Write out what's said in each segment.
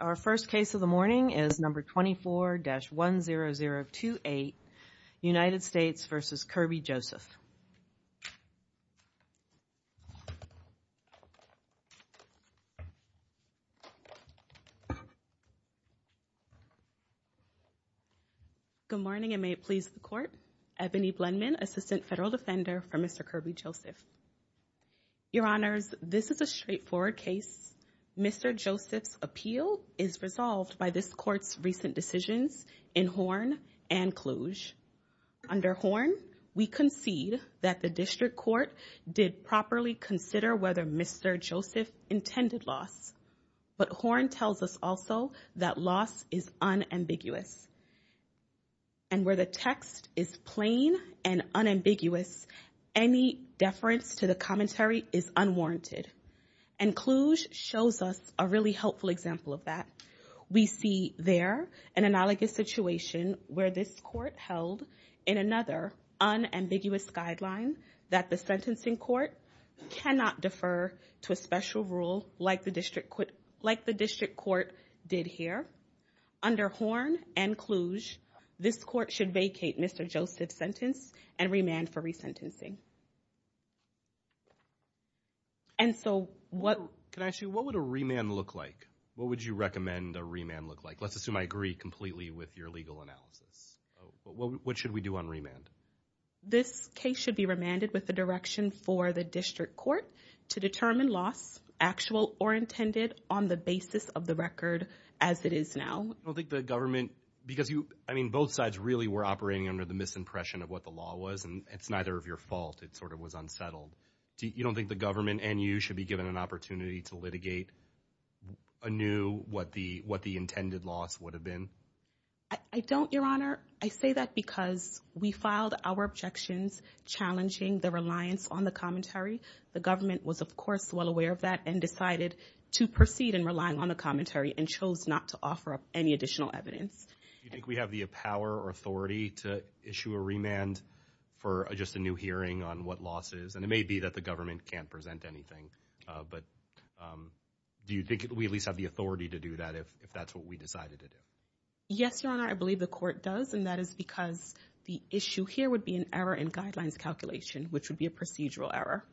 Our first case of the morning is number 24-10028, United States v. Kerby Joseph. Good morning and may it please the Court. Ebony Blendman, Assistant Federal Defender for Mr. Kerby Joseph. Your Honors, this is a straightforward case. Mr. Joseph's appeal is resolved by this Court's recent decisions in Horn and Cluj. Under Horn, we concede that the District Court did properly consider whether Mr. Joseph intended loss, but Horn tells us also that loss is unambiguous. And where the text is plain and unambiguous, any deference to the commentary is unwarranted. And Cluj shows us a really helpful example of that. We see there an analogous situation where this Court held in another unambiguous guideline that the sentencing court cannot defer to a special rule like the District Court did here. Under Horn and Cluj, this Court should vacate Mr. Joseph's and remand for re-sentencing. And so what... Can I ask you, what would a remand look like? What would you recommend a remand look like? Let's assume I agree completely with your legal analysis. What should we do on remand? This case should be remanded with the direction for the District Court to determine loss, actual or intended, on the basis of the record as it is now. I don't think the government, because you, I mean, both sides really were operating under the misimpression of what the law was, and it's neither of your fault. It sort of was unsettled. You don't think the government and you should be given an opportunity to litigate anew what the intended loss would have been? I don't, Your Honor. I say that because we filed our objections challenging the reliance on the commentary. The government was, of course, well aware of that and decided to proceed in relying on the commentary and chose not to offer any additional evidence. Do you think we have the power or authority to issue a remand for just a new hearing on what loss is? And it may be that the government can't present anything, but do you think we at least have the authority to do that if that's what we decided to do? Yes, Your Honor. I believe the court does, and that is because the issue here would be an error in guidelines calculation, which would be a procedural error.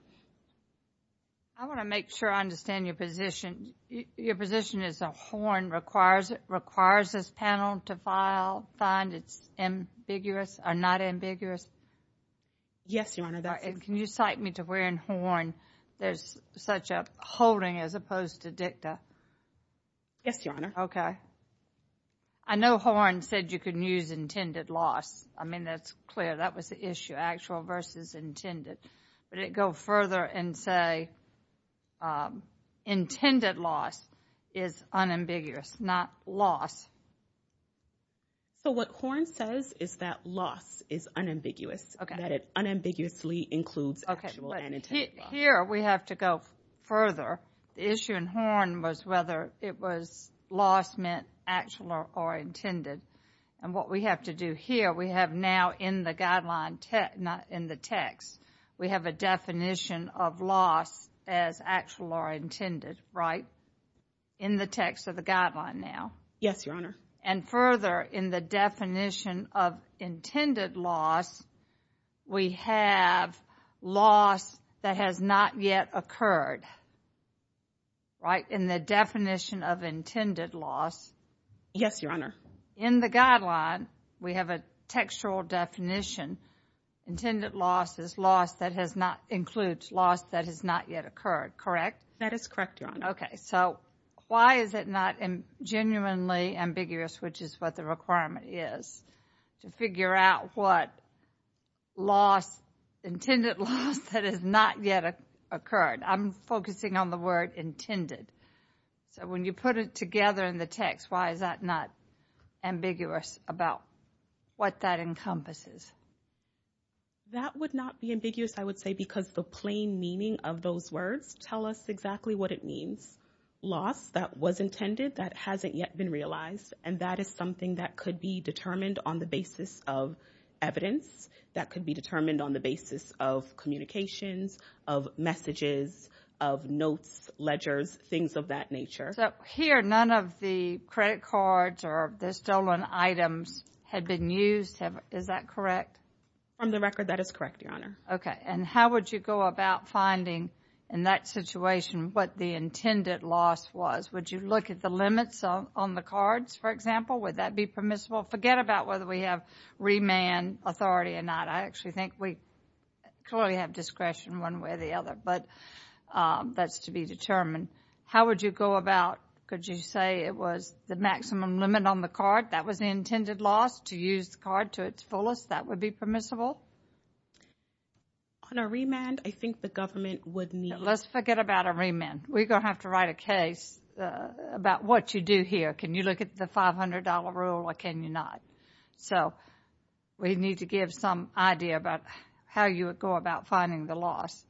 I want to make sure I understand your position. Your position is a horn requires this panel to find it's ambiguous or not ambiguous? Yes, Your Honor. Can you cite me to where in horn there's such a holding as opposed to dicta? Yes, Your Honor. Okay. I know horn said you can use intended loss. I mean, that's clear. That was the issue, actual versus intended. But it go further and say intended loss is unambiguous, not loss. So what horn says is that loss is unambiguous, that it unambiguously includes actual and intended loss. Okay. But here we have to go further. The issue in horn was whether it loss meant actual or intended. And what we have to do here, we have now in the text, we have a definition of loss as actual or intended, right? In the text of the guideline now. Yes, Your Honor. And further in the definition of intended loss, we have loss that has not yet occurred, right? In the definition of intended loss. Yes, Your Honor. In the guideline, we have a textual definition. Intended loss is loss that has not, includes loss that has not yet occurred, correct? That is correct, Your Honor. Okay. So why is it not genuinely ambiguous, which is what the requirement is, to figure out what loss, intended loss that has not yet occurred? I'm focusing on the word intended. So when you put it together in the text, why is that not ambiguous about what that encompasses? That would not be ambiguous, I would say, because the plain meaning of those words tell us exactly what it means. Loss that was intended, that hasn't yet been realized, and that is something that could be determined on the basis of evidence, that could be determined on the basis of communications, of messages, of notes, ledgers, things of that nature. So here, none of the credit cards or the stolen items had been used, is that correct? From the record, that is correct, Your Honor. Okay. And how would you go about finding, in that situation, what the intended loss was? Would you look at the limits on the cards, for example? Would that be permissible? Forget about whether we have remand authority or not. I actually think we clearly have discretion one way or the other, but that is to be determined. How would you go about, could you say it was the maximum limit on the card, that was the intended loss, to use the card to its fullest, that would be permissible? On a remand, I think the government would need... Let's forget about a remand. We're going to have to write a case about what you do here. Can you look at the $500 rule or can you not? So, we need to give some idea about how you would go about finding the loss.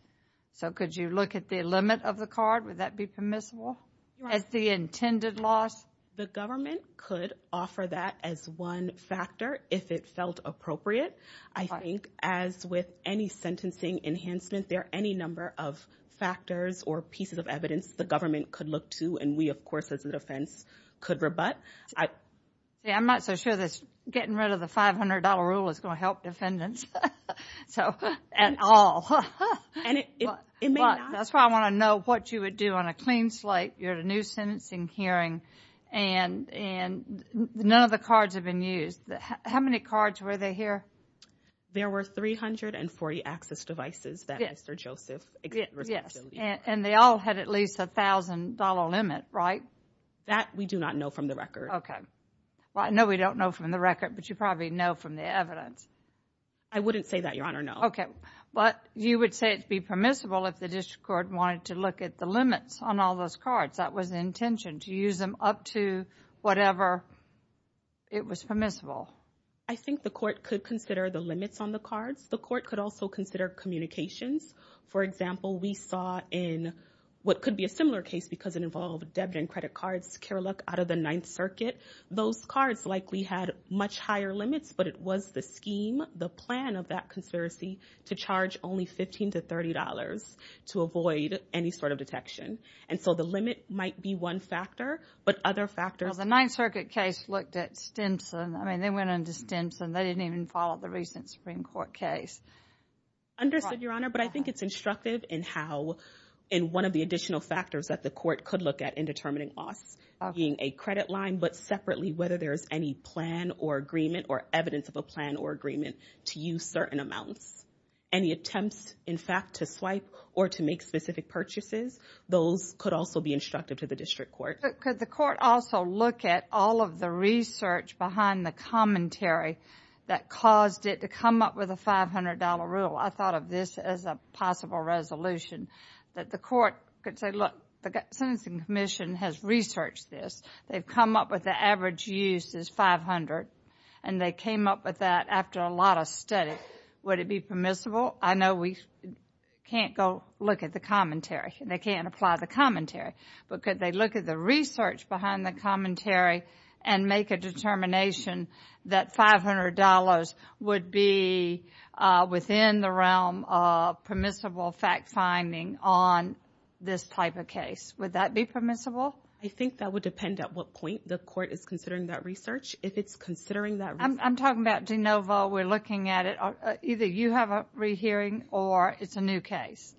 So, could you look at the limit of the card, would that be permissible? As the intended loss? The government could offer that as one factor, if it felt appropriate. I think as with any sentencing enhancement, there are any number of factors or pieces of evidence the government could look to and we, of course, as a defense, could rebut. I'm not so sure that getting rid of the $500 rule is going to help defendants so at all. That's why I want to know what you would do on a clean slate. You're at a new sentencing hearing and none of the cards have been used. How many cards were there here? There were 340 access devices that Mr. Joseph... Yes, and they all had at least a $1,000 limit, right? That we do not know from the record. Okay. Well, I know we don't know from the record, but you probably know from the evidence. I wouldn't say that, Your Honor, no. Okay. But you would say it would be permissible if the district court wanted to look at the limits on all those cards. That was the intention, to use them up to whatever it was permissible. I think the court could consider the limits on the cards. The court could also consider communications. For example, we saw in what could be a similar case because it involved debit and credit cards out of the Ninth Circuit. Those cards likely had much higher limits, but it was the scheme, the plan of that conspiracy to charge only $15 to $30 to avoid any sort of detection. And so the limit might be one factor, but other factors... Well, the Ninth Circuit case looked at Stimson. I mean, they went into Stimson. They didn't even follow the recent Supreme Court case. Understood, Your Honor, but I think it's in one of the additional factors that the court could look at in determining costs, being a credit line, but separately, whether there's any plan or agreement or evidence of a plan or agreement to use certain amounts. Any attempts, in fact, to swipe or to make specific purchases, those could also be instructive to the district court. Could the court also look at all of the research behind the commentary that caused it to come up with a $500 rule? I thought of this as a possible resolution that the court could say, look, the Sentencing Commission has researched this. They've come up with the average use is $500, and they came up with that after a lot of study. Would it be permissible? I know we can't go look at the commentary. They can't apply the commentary, but could they look at the research behind the commentary and make a determination that $500 would be within the realm of permissible fact-finding on this type of case? Would that be permissible? I think that would depend at what point the court is considering that research. If it's considering that... I'm talking about de novo. We're looking at it. Either you have a rehearing or it's a new case,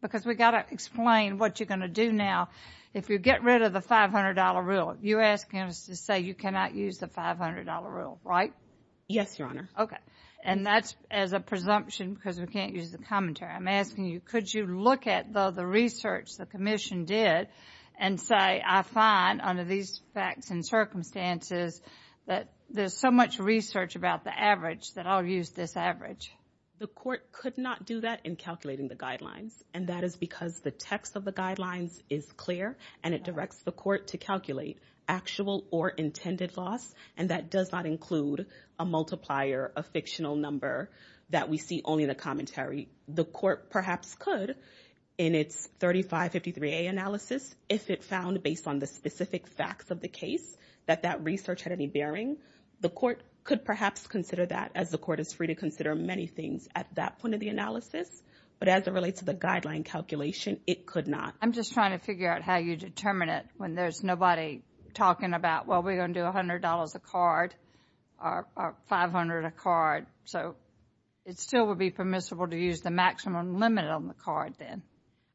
because we've got to explain what you're going to do now. If you get rid of the $500 rule, you're asking us to say you cannot use the $500 rule, right? Yes, Your Honor. Okay. And that's as a presumption because we can't use the commentary. I'm asking you, could you look at the research the commission did and say, I find under these facts and circumstances that there's so much research about the average that I'll use this average? The court could not do that in calculating the guidelines, and that is because the text of the guidelines is clear and it directs the court to calculate actual or intended loss. And that does not include a multiplier, a fictional number that we see only in the commentary. The court perhaps could in its 3553A analysis, if it found based on the specific facts of the case that that research had any bearing, the court could perhaps consider that as the court is free to consider many things at that point of the analysis. But as it relates to the guideline calculation, it could not. I'm just trying to figure out how you determine it when there's nobody talking about, well, we're going to do $100 a card or $500 a card. So it still would be permissible to use the maximum limit on the card then.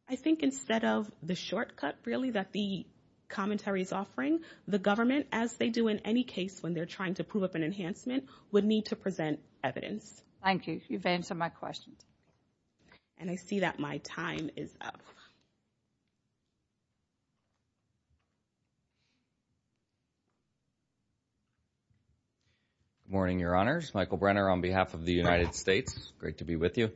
I think instead of the shortcut really that the commentary is offering, the government, as they do in any case when they're trying to prove up an enhancement, would need to present evidence. Thank you. You've answered my question. And I see that my time is up. Good morning, Your Honors. Michael Brenner on behalf of the United States. Great to be with you.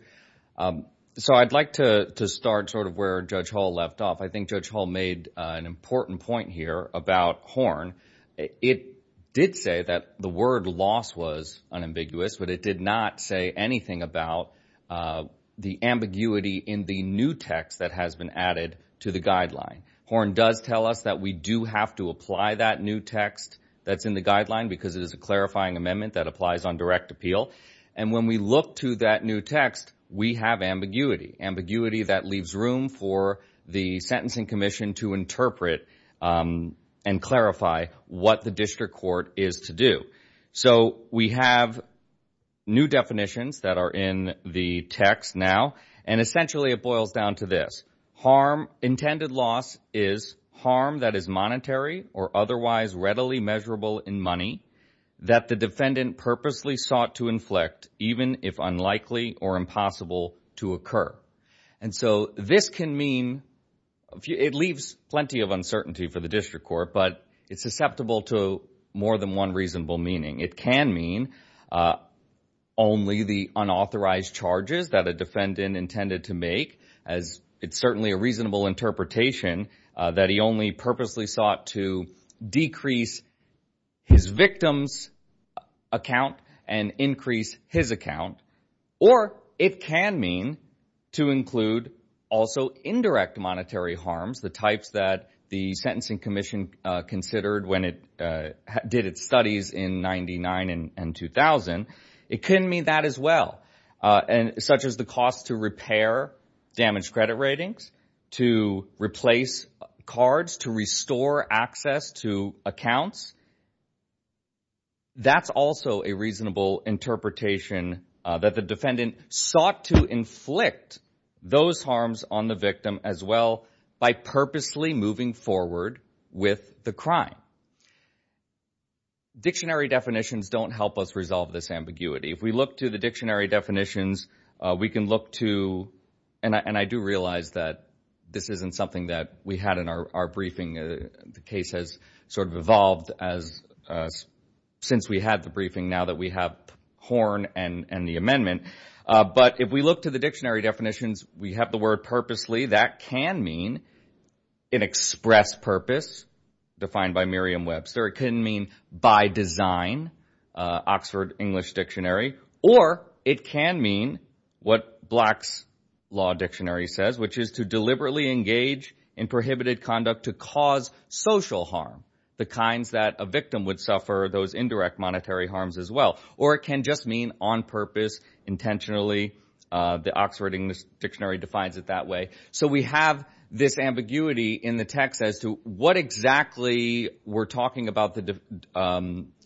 So I'd like to start sort of where Judge Hall left off. I think Judge Hall made an important point here about Horn. It did say that the word loss was unambiguous, but it did not say anything about the ambiguity in the new text that has been added to the guideline. Horn does tell us that we do have to apply that new text that's in the guideline because it is a clarifying amendment that applies on direct appeal. And when we look to that new text, we have ambiguity, ambiguity that leaves room for the Sentencing Commission to interpret and clarify what the district court is to do. So we have new definitions that are in the text now, and essentially it boils down to this. Intended loss is harm that is monetary or otherwise readily measurable in money that the defendant purposely sought to inflict, even if unlikely or impossible to occur. And so this can mean, it leaves plenty of uncertainty for the district court, but it's susceptible to more than one reasonable meaning. It can mean only the unauthorized charges that a defendant intended to make, as it's certainly a reasonable interpretation that he only purposely sought to decrease his victim's account and increase his account. Or it can mean to include also indirect monetary harms, the types that the Sentencing Commission considered when it did its studies in 99 and 2000. It can mean that as well, such as the cost to repair damaged credit ratings, to replace cards, to restore access to accounts. That's also a reasonable interpretation that the defendant sought to inflict those harms on the victim as well by purposely moving forward with the crime. Dictionary definitions don't help us resolve this ambiguity. If we look to the dictionary definitions, we can look to, and I do realize that this isn't something that we had in our briefing. The case has sort of evolved since we had the briefing, now that we have Horn and the amendment. But if we look to the dictionary definitions, we have the word purposely. That can mean an express purpose defined by Merriam-Webster. It can mean by design, Oxford English Dictionary. Or it can mean what Black's Law Dictionary says, which is to deliberately engage in prohibited conduct to cause social harm, the kinds that a victim would suffer those indirect monetary harms as well. Or it can just mean on purpose, intentionally. The Oxford English Dictionary defines it that way. So we have this ambiguity in the text as to what exactly we're talking about the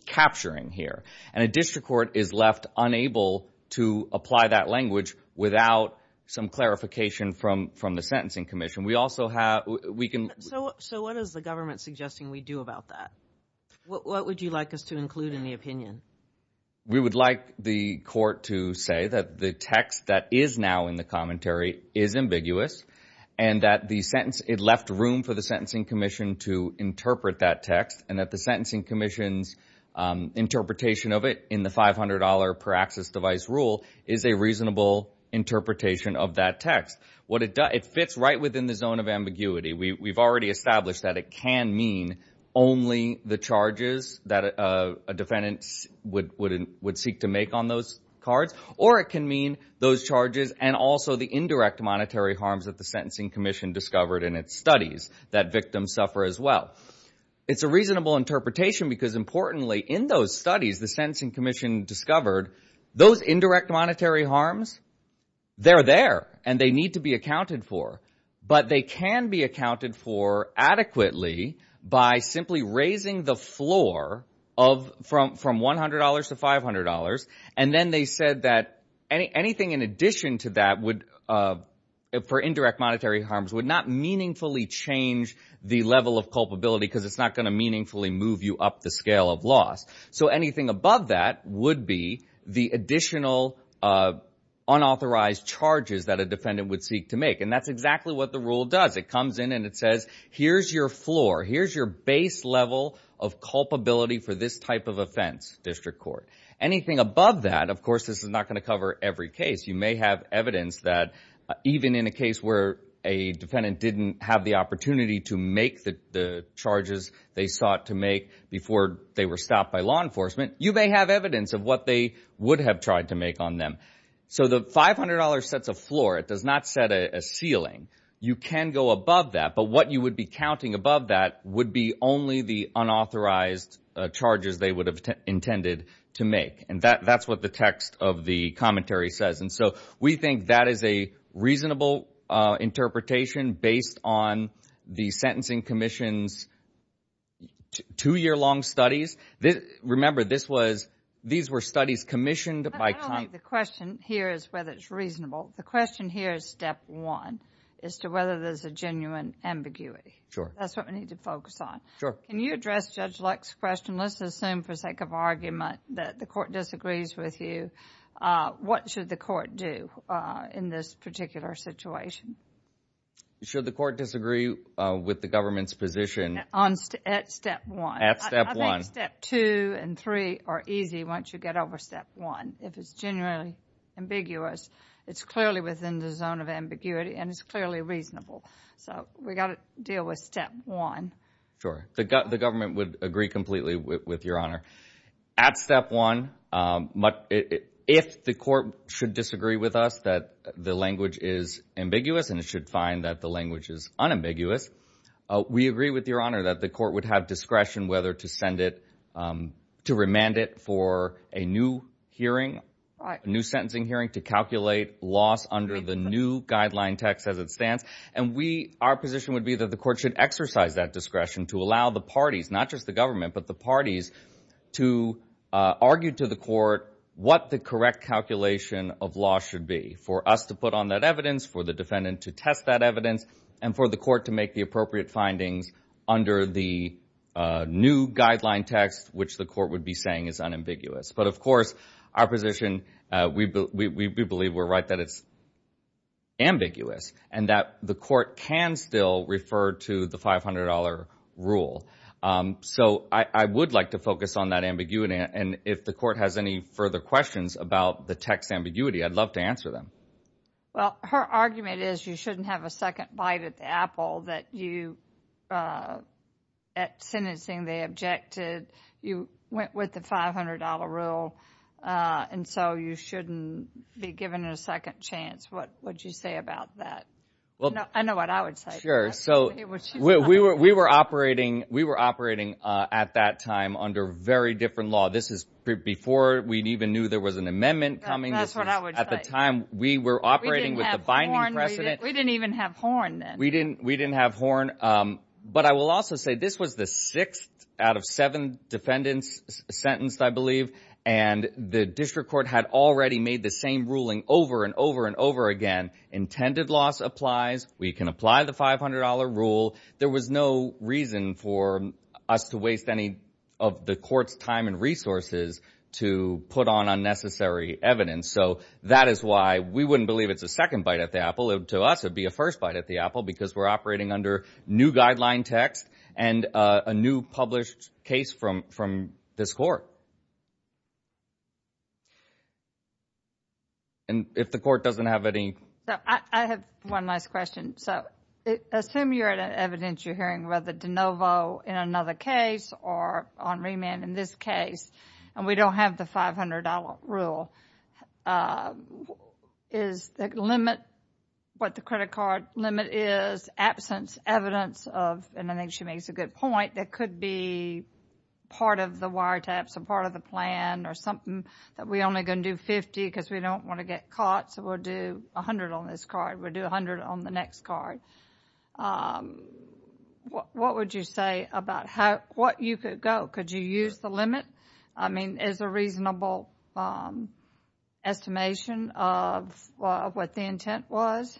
capturing here. And a district court is left unable to apply that language without some clarification from the Sentencing Commission. We also have, we can... So what is the government suggesting we do about that? What would you like us to include in the opinion? We would like the court to say that the text that is now in the commentary is ambiguous, and that the sentence, it left room for the Sentencing Commission to interpret that text, and that the Sentencing Commission's interpretation of it in the $500 per access device rule is a reasonable interpretation of that text. It fits right within the zone of ambiguity. We've already established that it can mean only the charges that a defendant would seek to make on those cards, or it can mean those charges and also the indirect monetary harms that the Sentencing Commission discovered in its studies that victims suffer as well. It's a reasonable interpretation because importantly in those studies, the Sentencing Commission discovered those indirect monetary harms, they're there and they need to be accounted for. But they can be accounted for adequately by simply raising the floor from $100 to $500. And then they said that anything in addition to that for indirect monetary harms would not meaningfully change the level of culpability, because it's not going to meaningfully move you up the scale of loss. So anything above that would be the additional unauthorized charges that a defendant would seek to make. And that's exactly what the rule does. It comes in and it says, here's your floor, here's your base level of culpability for this type of offense, district court. Anything above that, of course, this is not going to cover every case. You may have evidence that even in a case where a defendant didn't have the opportunity to make the charges they sought to make before they were stopped by law enforcement, you may have evidence of what they would have tried to make on them. So the $500 sets a floor, it does not set a ceiling. You can go above that, but what you would be counting above that would be only the unauthorized charges they would have intended to make. And that's what the text of the commentary says. And so we think that is a reasonable interpretation based on the Sentencing Commission's two-year-long studies. Remember, these were studies commissioned by Congress. The question here is whether it's reasonable. The question here is step one, is to whether there's a genuine ambiguity. That's what we need to focus on. Can you address Judge Luck's question? Let's assume for sake of argument that the court disagrees with you. What should the court do in this particular situation? Should the court disagree with the government's position? At step one. I think step two and three are easy once you get over step one. If it's genuinely ambiguous, it's clearly within the zone of ambiguity and it's clearly reasonable. So we got to deal with step one. Sure. The government would agree completely with your honor. At step one, if the court should disagree with us that the language is ambiguous and it should find that the language is unambiguous, we agree with your honor that the court would have discretion whether to send it, to remand it for a new hearing, a new sentencing hearing to calculate loss under the new guideline text as it stands. And we, our position would be that the court should exercise that discretion to allow the parties, not just the government, but the parties to argue to the court what the correct calculation of law should be for us to put on that evidence, for the defendant to test that evidence, and for the court to make the appropriate findings under the new guideline text, which the court would be saying is unambiguous. But of course, our position, we believe we're right that it's ambiguous and that the court can still refer to the $500 rule. So I would like to focus on that ambiguity. And if the court has any further questions about the text ambiguity, I'd love to answer them. Well, her argument is you shouldn't have a second bite at the apple that you, uh, at sentencing, they objected, you went with the $500 rule. Uh, and so you shouldn't be given a second chance. What would you say about that? Well, I know what I would say. Sure. So we were, we were operating, we were operating, uh, at that time under very different law. This is before we'd even knew there was an amendment coming at the time we were operating precedent. We didn't even have horn. We didn't, we didn't have horn. Um, but I will also say this was the sixth out of seven defendants sentenced, I believe. And the district court had already made the same ruling over and over and over again, intended loss applies. We can apply the $500 rule. There was no reason for us to waste any of the court's time and resources to put on unnecessary evidence. So that is why we wouldn't believe it's a second bite at the apple to us. It'd be a first bite at the apple because we're operating under new guideline text and a new published case from, from this court. And if the court doesn't have any, I have one last question. So assume you're at an evidence, you're hearing whether DeNovo in another case or on remand in this case, and we don't have the $500 rule, uh, is the limit, what the credit card limit is, absence evidence of, and I think she makes a good point, that could be part of the wiretaps or part of the plan or something that we only going to do 50 because we don't want to get caught. So we'll do 100 on this card. We'll do 100 on the next card. Um, what, what would you say about how, what you could go? Could you use the limit? I mean, is a reasonable, um, estimation of, uh, what the intent was?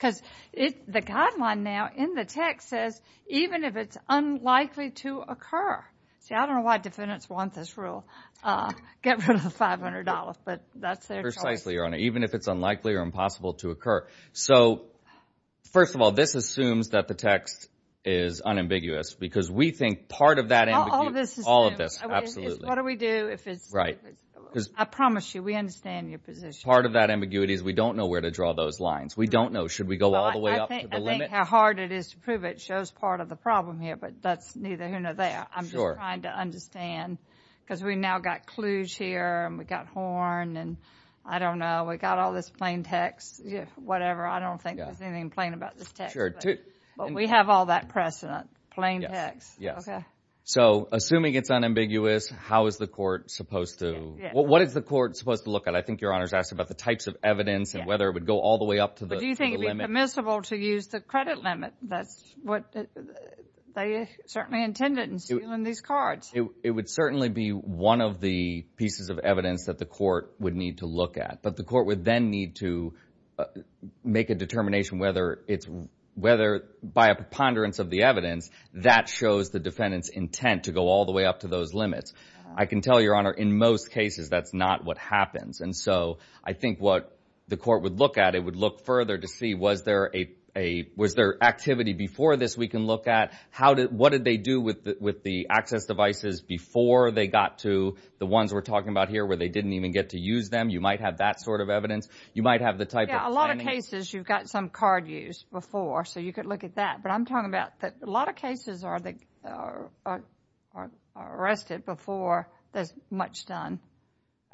Cause it, the guideline now in the text says, even if it's unlikely to occur, see, I don't know why defendants want this rule, uh, get rid of the $500, but that's their choice. Precisely, Your Honor. Even if it's unlikely or impossible to occur. So first of all, this assumes that the text is unambiguous because we think part of that, all of this, all of this. Absolutely. What do we do if it's right? I promise you, we understand your position. Part of that ambiguity is we don't know where to draw those lines. We don't know. Should we go all the way up to the limit? I think how hard it is to prove it shows part of the problem here, but that's neither here nor there. I'm just trying to understand cause we now got clues here and we got horn and I don't know, we got all this text, whatever. I don't think there's anything plain about this text, but we have all that precedent. Plain text. Yes. Okay. So assuming it's unambiguous, how is the court supposed to, what is the court supposed to look at? I think Your Honor's asked about the types of evidence and whether it would go all the way up to the limit. Do you think it'd be permissible to use the credit limit? That's what they certainly intended in stealing these cards. It would certainly be one of the pieces of evidence that the court would need to look at, but the court would then need to make a determination whether it's, whether by a preponderance of the evidence that shows the defendant's intent to go all the way up to those limits. I can tell Your Honor, in most cases, that's not what happens. And so I think what the court would look at, it would look further to see, was there a, a, was there activity before this we can look at? How did, what did they do with the, with the access devices before they got to the ones we're talking about here where they didn't even get to use them? You might have that sort of evidence. You might have the type of... Yeah, a lot of cases you've got some card use before, so you could look at that. But I'm talking about that a lot of cases are, are, are arrested before there's much done.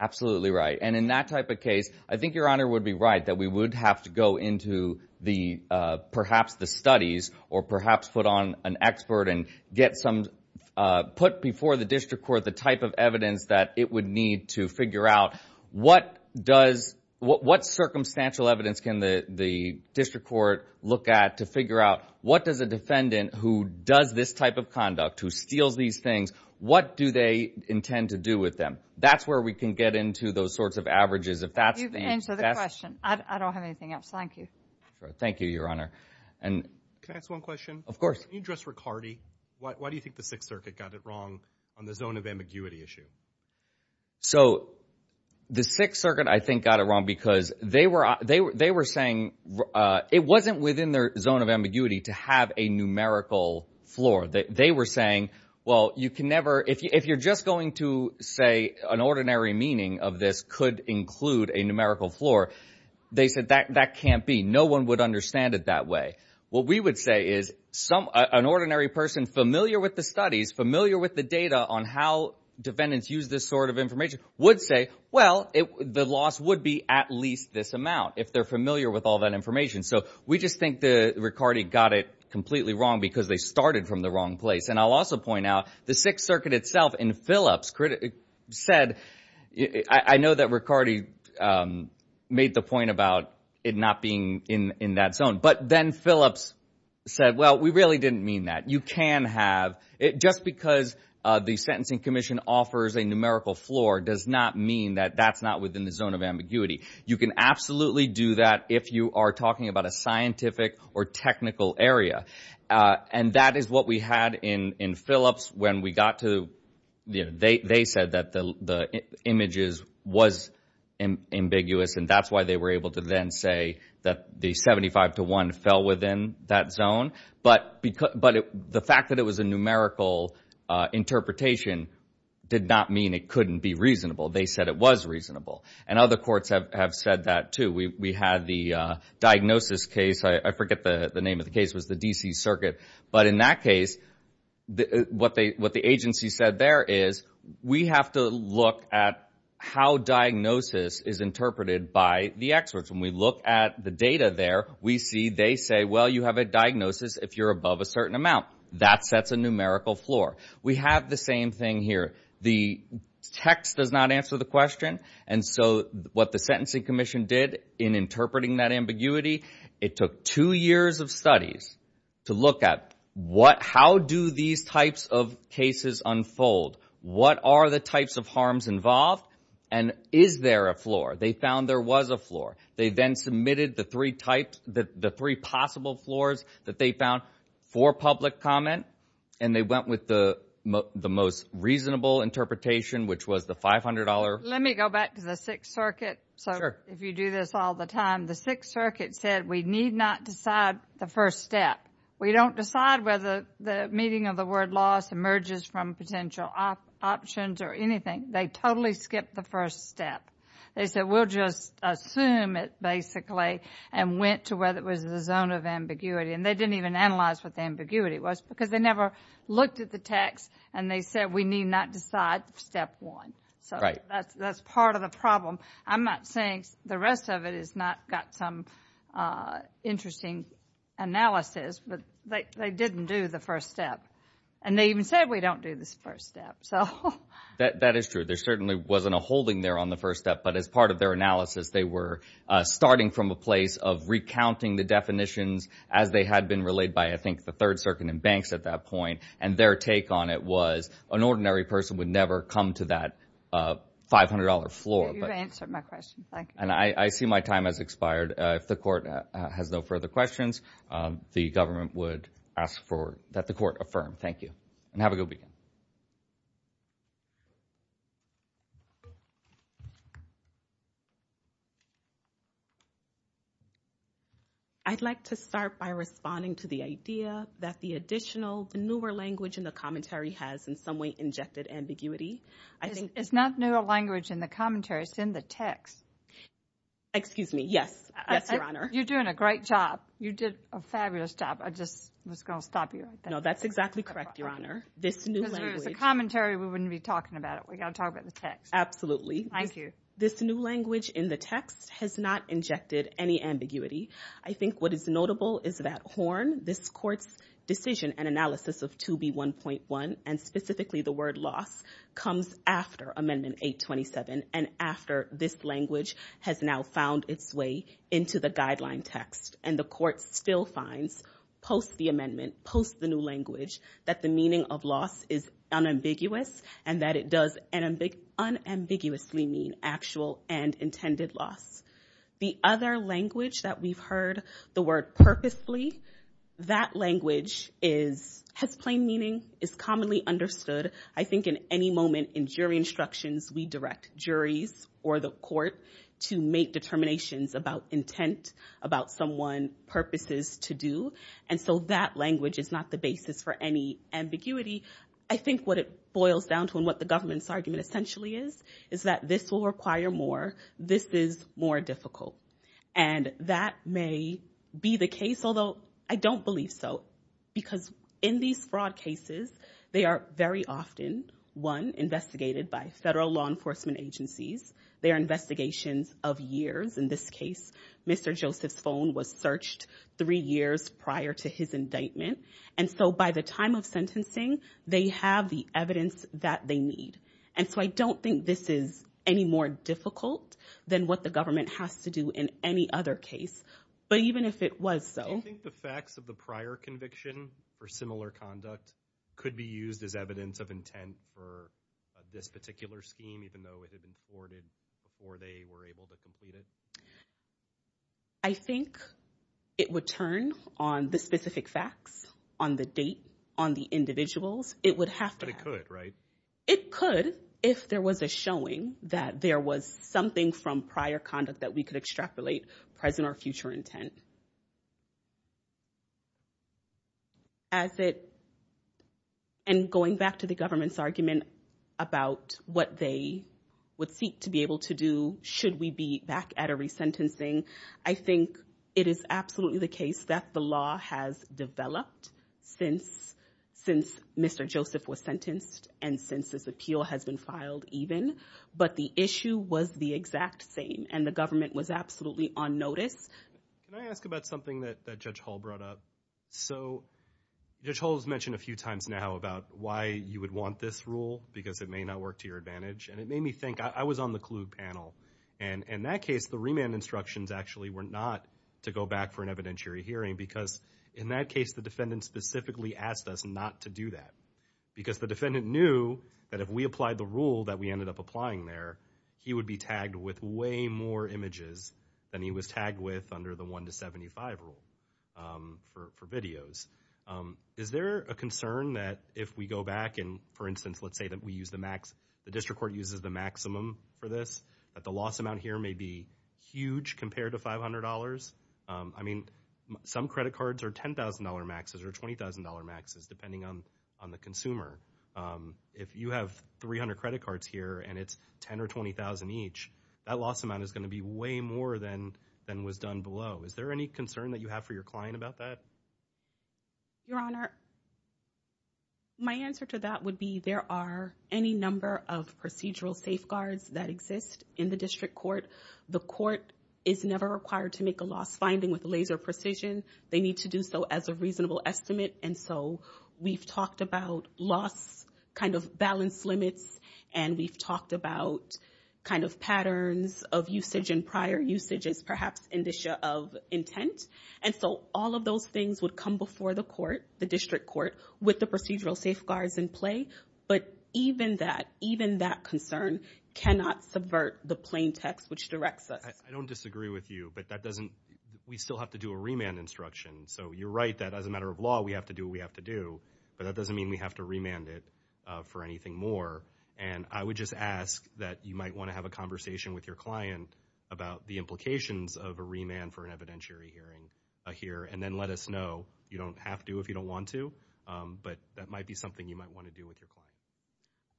Absolutely right. And in that type of case, I think Your Honor would be right that we would have to go into the, perhaps the studies or perhaps put on an expert and get some, put before the district court the type of evidence that it would need to figure out what does, what, what circumstantial evidence can the, the district court look at to figure out what does a defendant who does this type of conduct, who steals these things, what do they intend to do with them? That's where we can get into those sorts of averages. If that's... You've answered the question. I don't have anything else. Thank you. Thank you, Your Honor. And... Can I ask one question? Of course. Can you address Ricardi? Why, why do you think the Sixth Circuit, I think, got it wrong? Because they were, they were, they were saying, it wasn't within their zone of ambiguity to have a numerical floor. They, they were saying, well, you can never, if you, if you're just going to say an ordinary meaning of this could include a numerical floor, they said that, that can't be. No one would understand it that way. What we would say is some, an ordinary person familiar with the studies, familiar with the data on how defendants use this sort of information would say, well, the loss would be at least this amount, if they're familiar with all that information. So we just think the Ricardi got it completely wrong because they started from the wrong place. And I'll also point out the Sixth Circuit itself in Phillips said, I know that Ricardi made the point about it not being in, in that zone, but then Phillips said, well, we really didn't mean that. You can have it just because the Sentencing Commission offers a numerical floor does not mean that that's not within the zone of ambiguity. You can absolutely do that if you are talking about a scientific or technical area. And that is what we had in, in Phillips when we got to, you know, they, they said that the, the images was ambiguous and that's why they were able to then say that the 75 to 1 fell within that zone. But because, but the fact that it was a numerical interpretation did not mean it couldn't be reasonable. They said it was reasonable. And other courts have, have said that too. We, we had the diagnosis case. I forget the name of the case was the DC Circuit. But in that case, what they, what the agency said there is we have to look at how diagnosis is interpreted by the experts. When we look at the data there, we see, they say, well, you have a diagnosis. If you're above a certain amount, that sets a numerical floor. We have the same thing here. The text does not answer the question. And so what the Sentencing Commission did in interpreting that ambiguity, it took two years of studies to look at what, how do these types of cases unfold? What are the types of harms involved? And is there a floor? They found there was a floor. They then submitted the three types, the three possible floors that they found for public comment. And they went with the most reasonable interpretation, which was the $500. Let me go back to the Sixth Circuit. So if you do this all the time, the Sixth Circuit said we need not decide the first step. We don't decide whether the meaning of the word loss emerges from potential options or anything. They totally skipped the first step. They said we'll just assume it, basically, and went to whether it was the zone of ambiguity. And they didn't even analyze what the ambiguity was because they never looked at the text. And they said we need not decide step one. So that's part of the problem. I'm not saying the rest of it has not got some interesting analysis, but they didn't do the first step. And they even said we don't do this first step. That is true. There certainly wasn't a holding there on the first step. But as part of their analysis, they were starting from a place of recounting the definitions as they had been relayed by, I think, the Third Circuit and banks at that point. And their take on it was an ordinary person would never come to that $500 floor. You've answered my question. Thank you. I see my time has expired. If the court has no further questions, the government would ask that the court affirm. Thank you. And have a good weekend. I'd like to start by responding to the idea that the additional, the newer language in the commentary has, in some way, injected ambiguity. It's not newer language in the commentary. It's the text. Excuse me. Yes. Yes, Your Honor. You're doing a great job. You did a fabulous job. I just was going to stop you. No, that's exactly correct, Your Honor. Because if it was a commentary, we wouldn't be talking about it. We got to talk about the text. Absolutely. Thank you. This new language in the text has not injected any ambiguity. I think what is notable is that Horn, this court's decision and analysis of 2B1.1, and specifically the word loss, comes after Amendment 827 and this language has now found its way into the guideline text. And the court still finds, post the amendment, post the new language, that the meaning of loss is unambiguous and that it does unambiguously mean actual and intended loss. The other language that we've heard, the word purposely, that language has plain meaning, is commonly understood. I think in any moment in jury instructions, we direct juries or the court to make determinations about intent, about someone's purposes to do. And so that language is not the basis for any ambiguity. I think what it boils down to and what the government's argument essentially is, is that this will require more. This is more difficult. And that may be the case, although I don't believe so. Because in these fraud cases, they are very often, one, investigated by federal law enforcement agencies. They are investigations of years. In this case, Mr. Joseph's phone was searched three years prior to his indictment. And so by the time of sentencing, they have the evidence that they need. And so I don't think this is any more difficult than what the government has to do in any other case. But even if it was so. Do you think the facts of the prior conviction for similar conduct could be used as evidence of intent for this particular scheme, even though it had been forwarded before they were able to complete it? I think it would turn on the specific facts, on the date, on the individuals. It would have to. But it could, right? It could, if there was a showing that there was something from prior conduct that we could extrapolate, present or future intent. As it, and going back to the government's argument about what they would seek to be able to do, should we be back at a resentencing, I think it is absolutely the case that the law has developed since Mr. Joseph was sentenced and since this appeal has been filed even. But the issue was the exact same, and the government was absolutely on notice. Can I ask about something that Judge Hull brought up? So Judge Hull has mentioned a few times now about why you would want this rule, because it may not work to your advantage. And it made me think, I was on the Kluge panel. And in that case, the remand instructions actually were not to go back for an evidentiary hearing. Because in that case, the defendant specifically asked us not to do that. Because the defendant knew that if we applied the rule that we ended up applying there, he would be tagged with way more images than he was tagged with under the 1 to 75 rule for videos. Is there a concern that if we go back and, for instance, let's say that we use the max, the district court uses the maximum for this, that the loss amount here may be huge compared to $500? I mean, some credit cards are $10,000 maxes or $20,000 maxes, depending on the consumer. If you have 300 credit cards here, and it's $10,000 or $20,000 each, that loss amount is going to be way more than was done below. Is there any concern that you have for your client about that? Your Honor, my answer to that would be, there are any number of procedural safeguards that exist in the district court. The court is never required to make a loss finding with laser precision. They need to do so as a reasonable estimate. And so we've talked about loss, kind of balance limits, and we've talked about kind of patterns of usage and prior usages, perhaps indicia of intent. And so all of those things would come before the court, the district court, with the procedural safeguards in play. But even that, even that concern cannot subvert the plain text which directs us. I don't disagree with you, but that doesn't, we still have to do a remand instruction. So you're right that as a matter of law, we have to do what we have to do, but that doesn't mean we have to remand it for anything more. And I would just ask that you might want to have a conversation with your client about the implications of a remand for an evidentiary hearing here, and then let us know. You don't have to if you don't want to, but that might be something you might want to do with your client.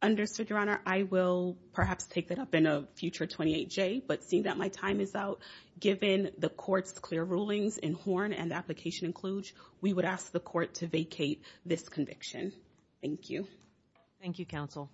Understood, Your Honor. I will perhaps take that up in a future 28J, but seeing that my time is out, given the court's clear rulings in Horn and the application in Kluge, we would ask the court to vacate this conviction. Thank you. Thank you, counsel.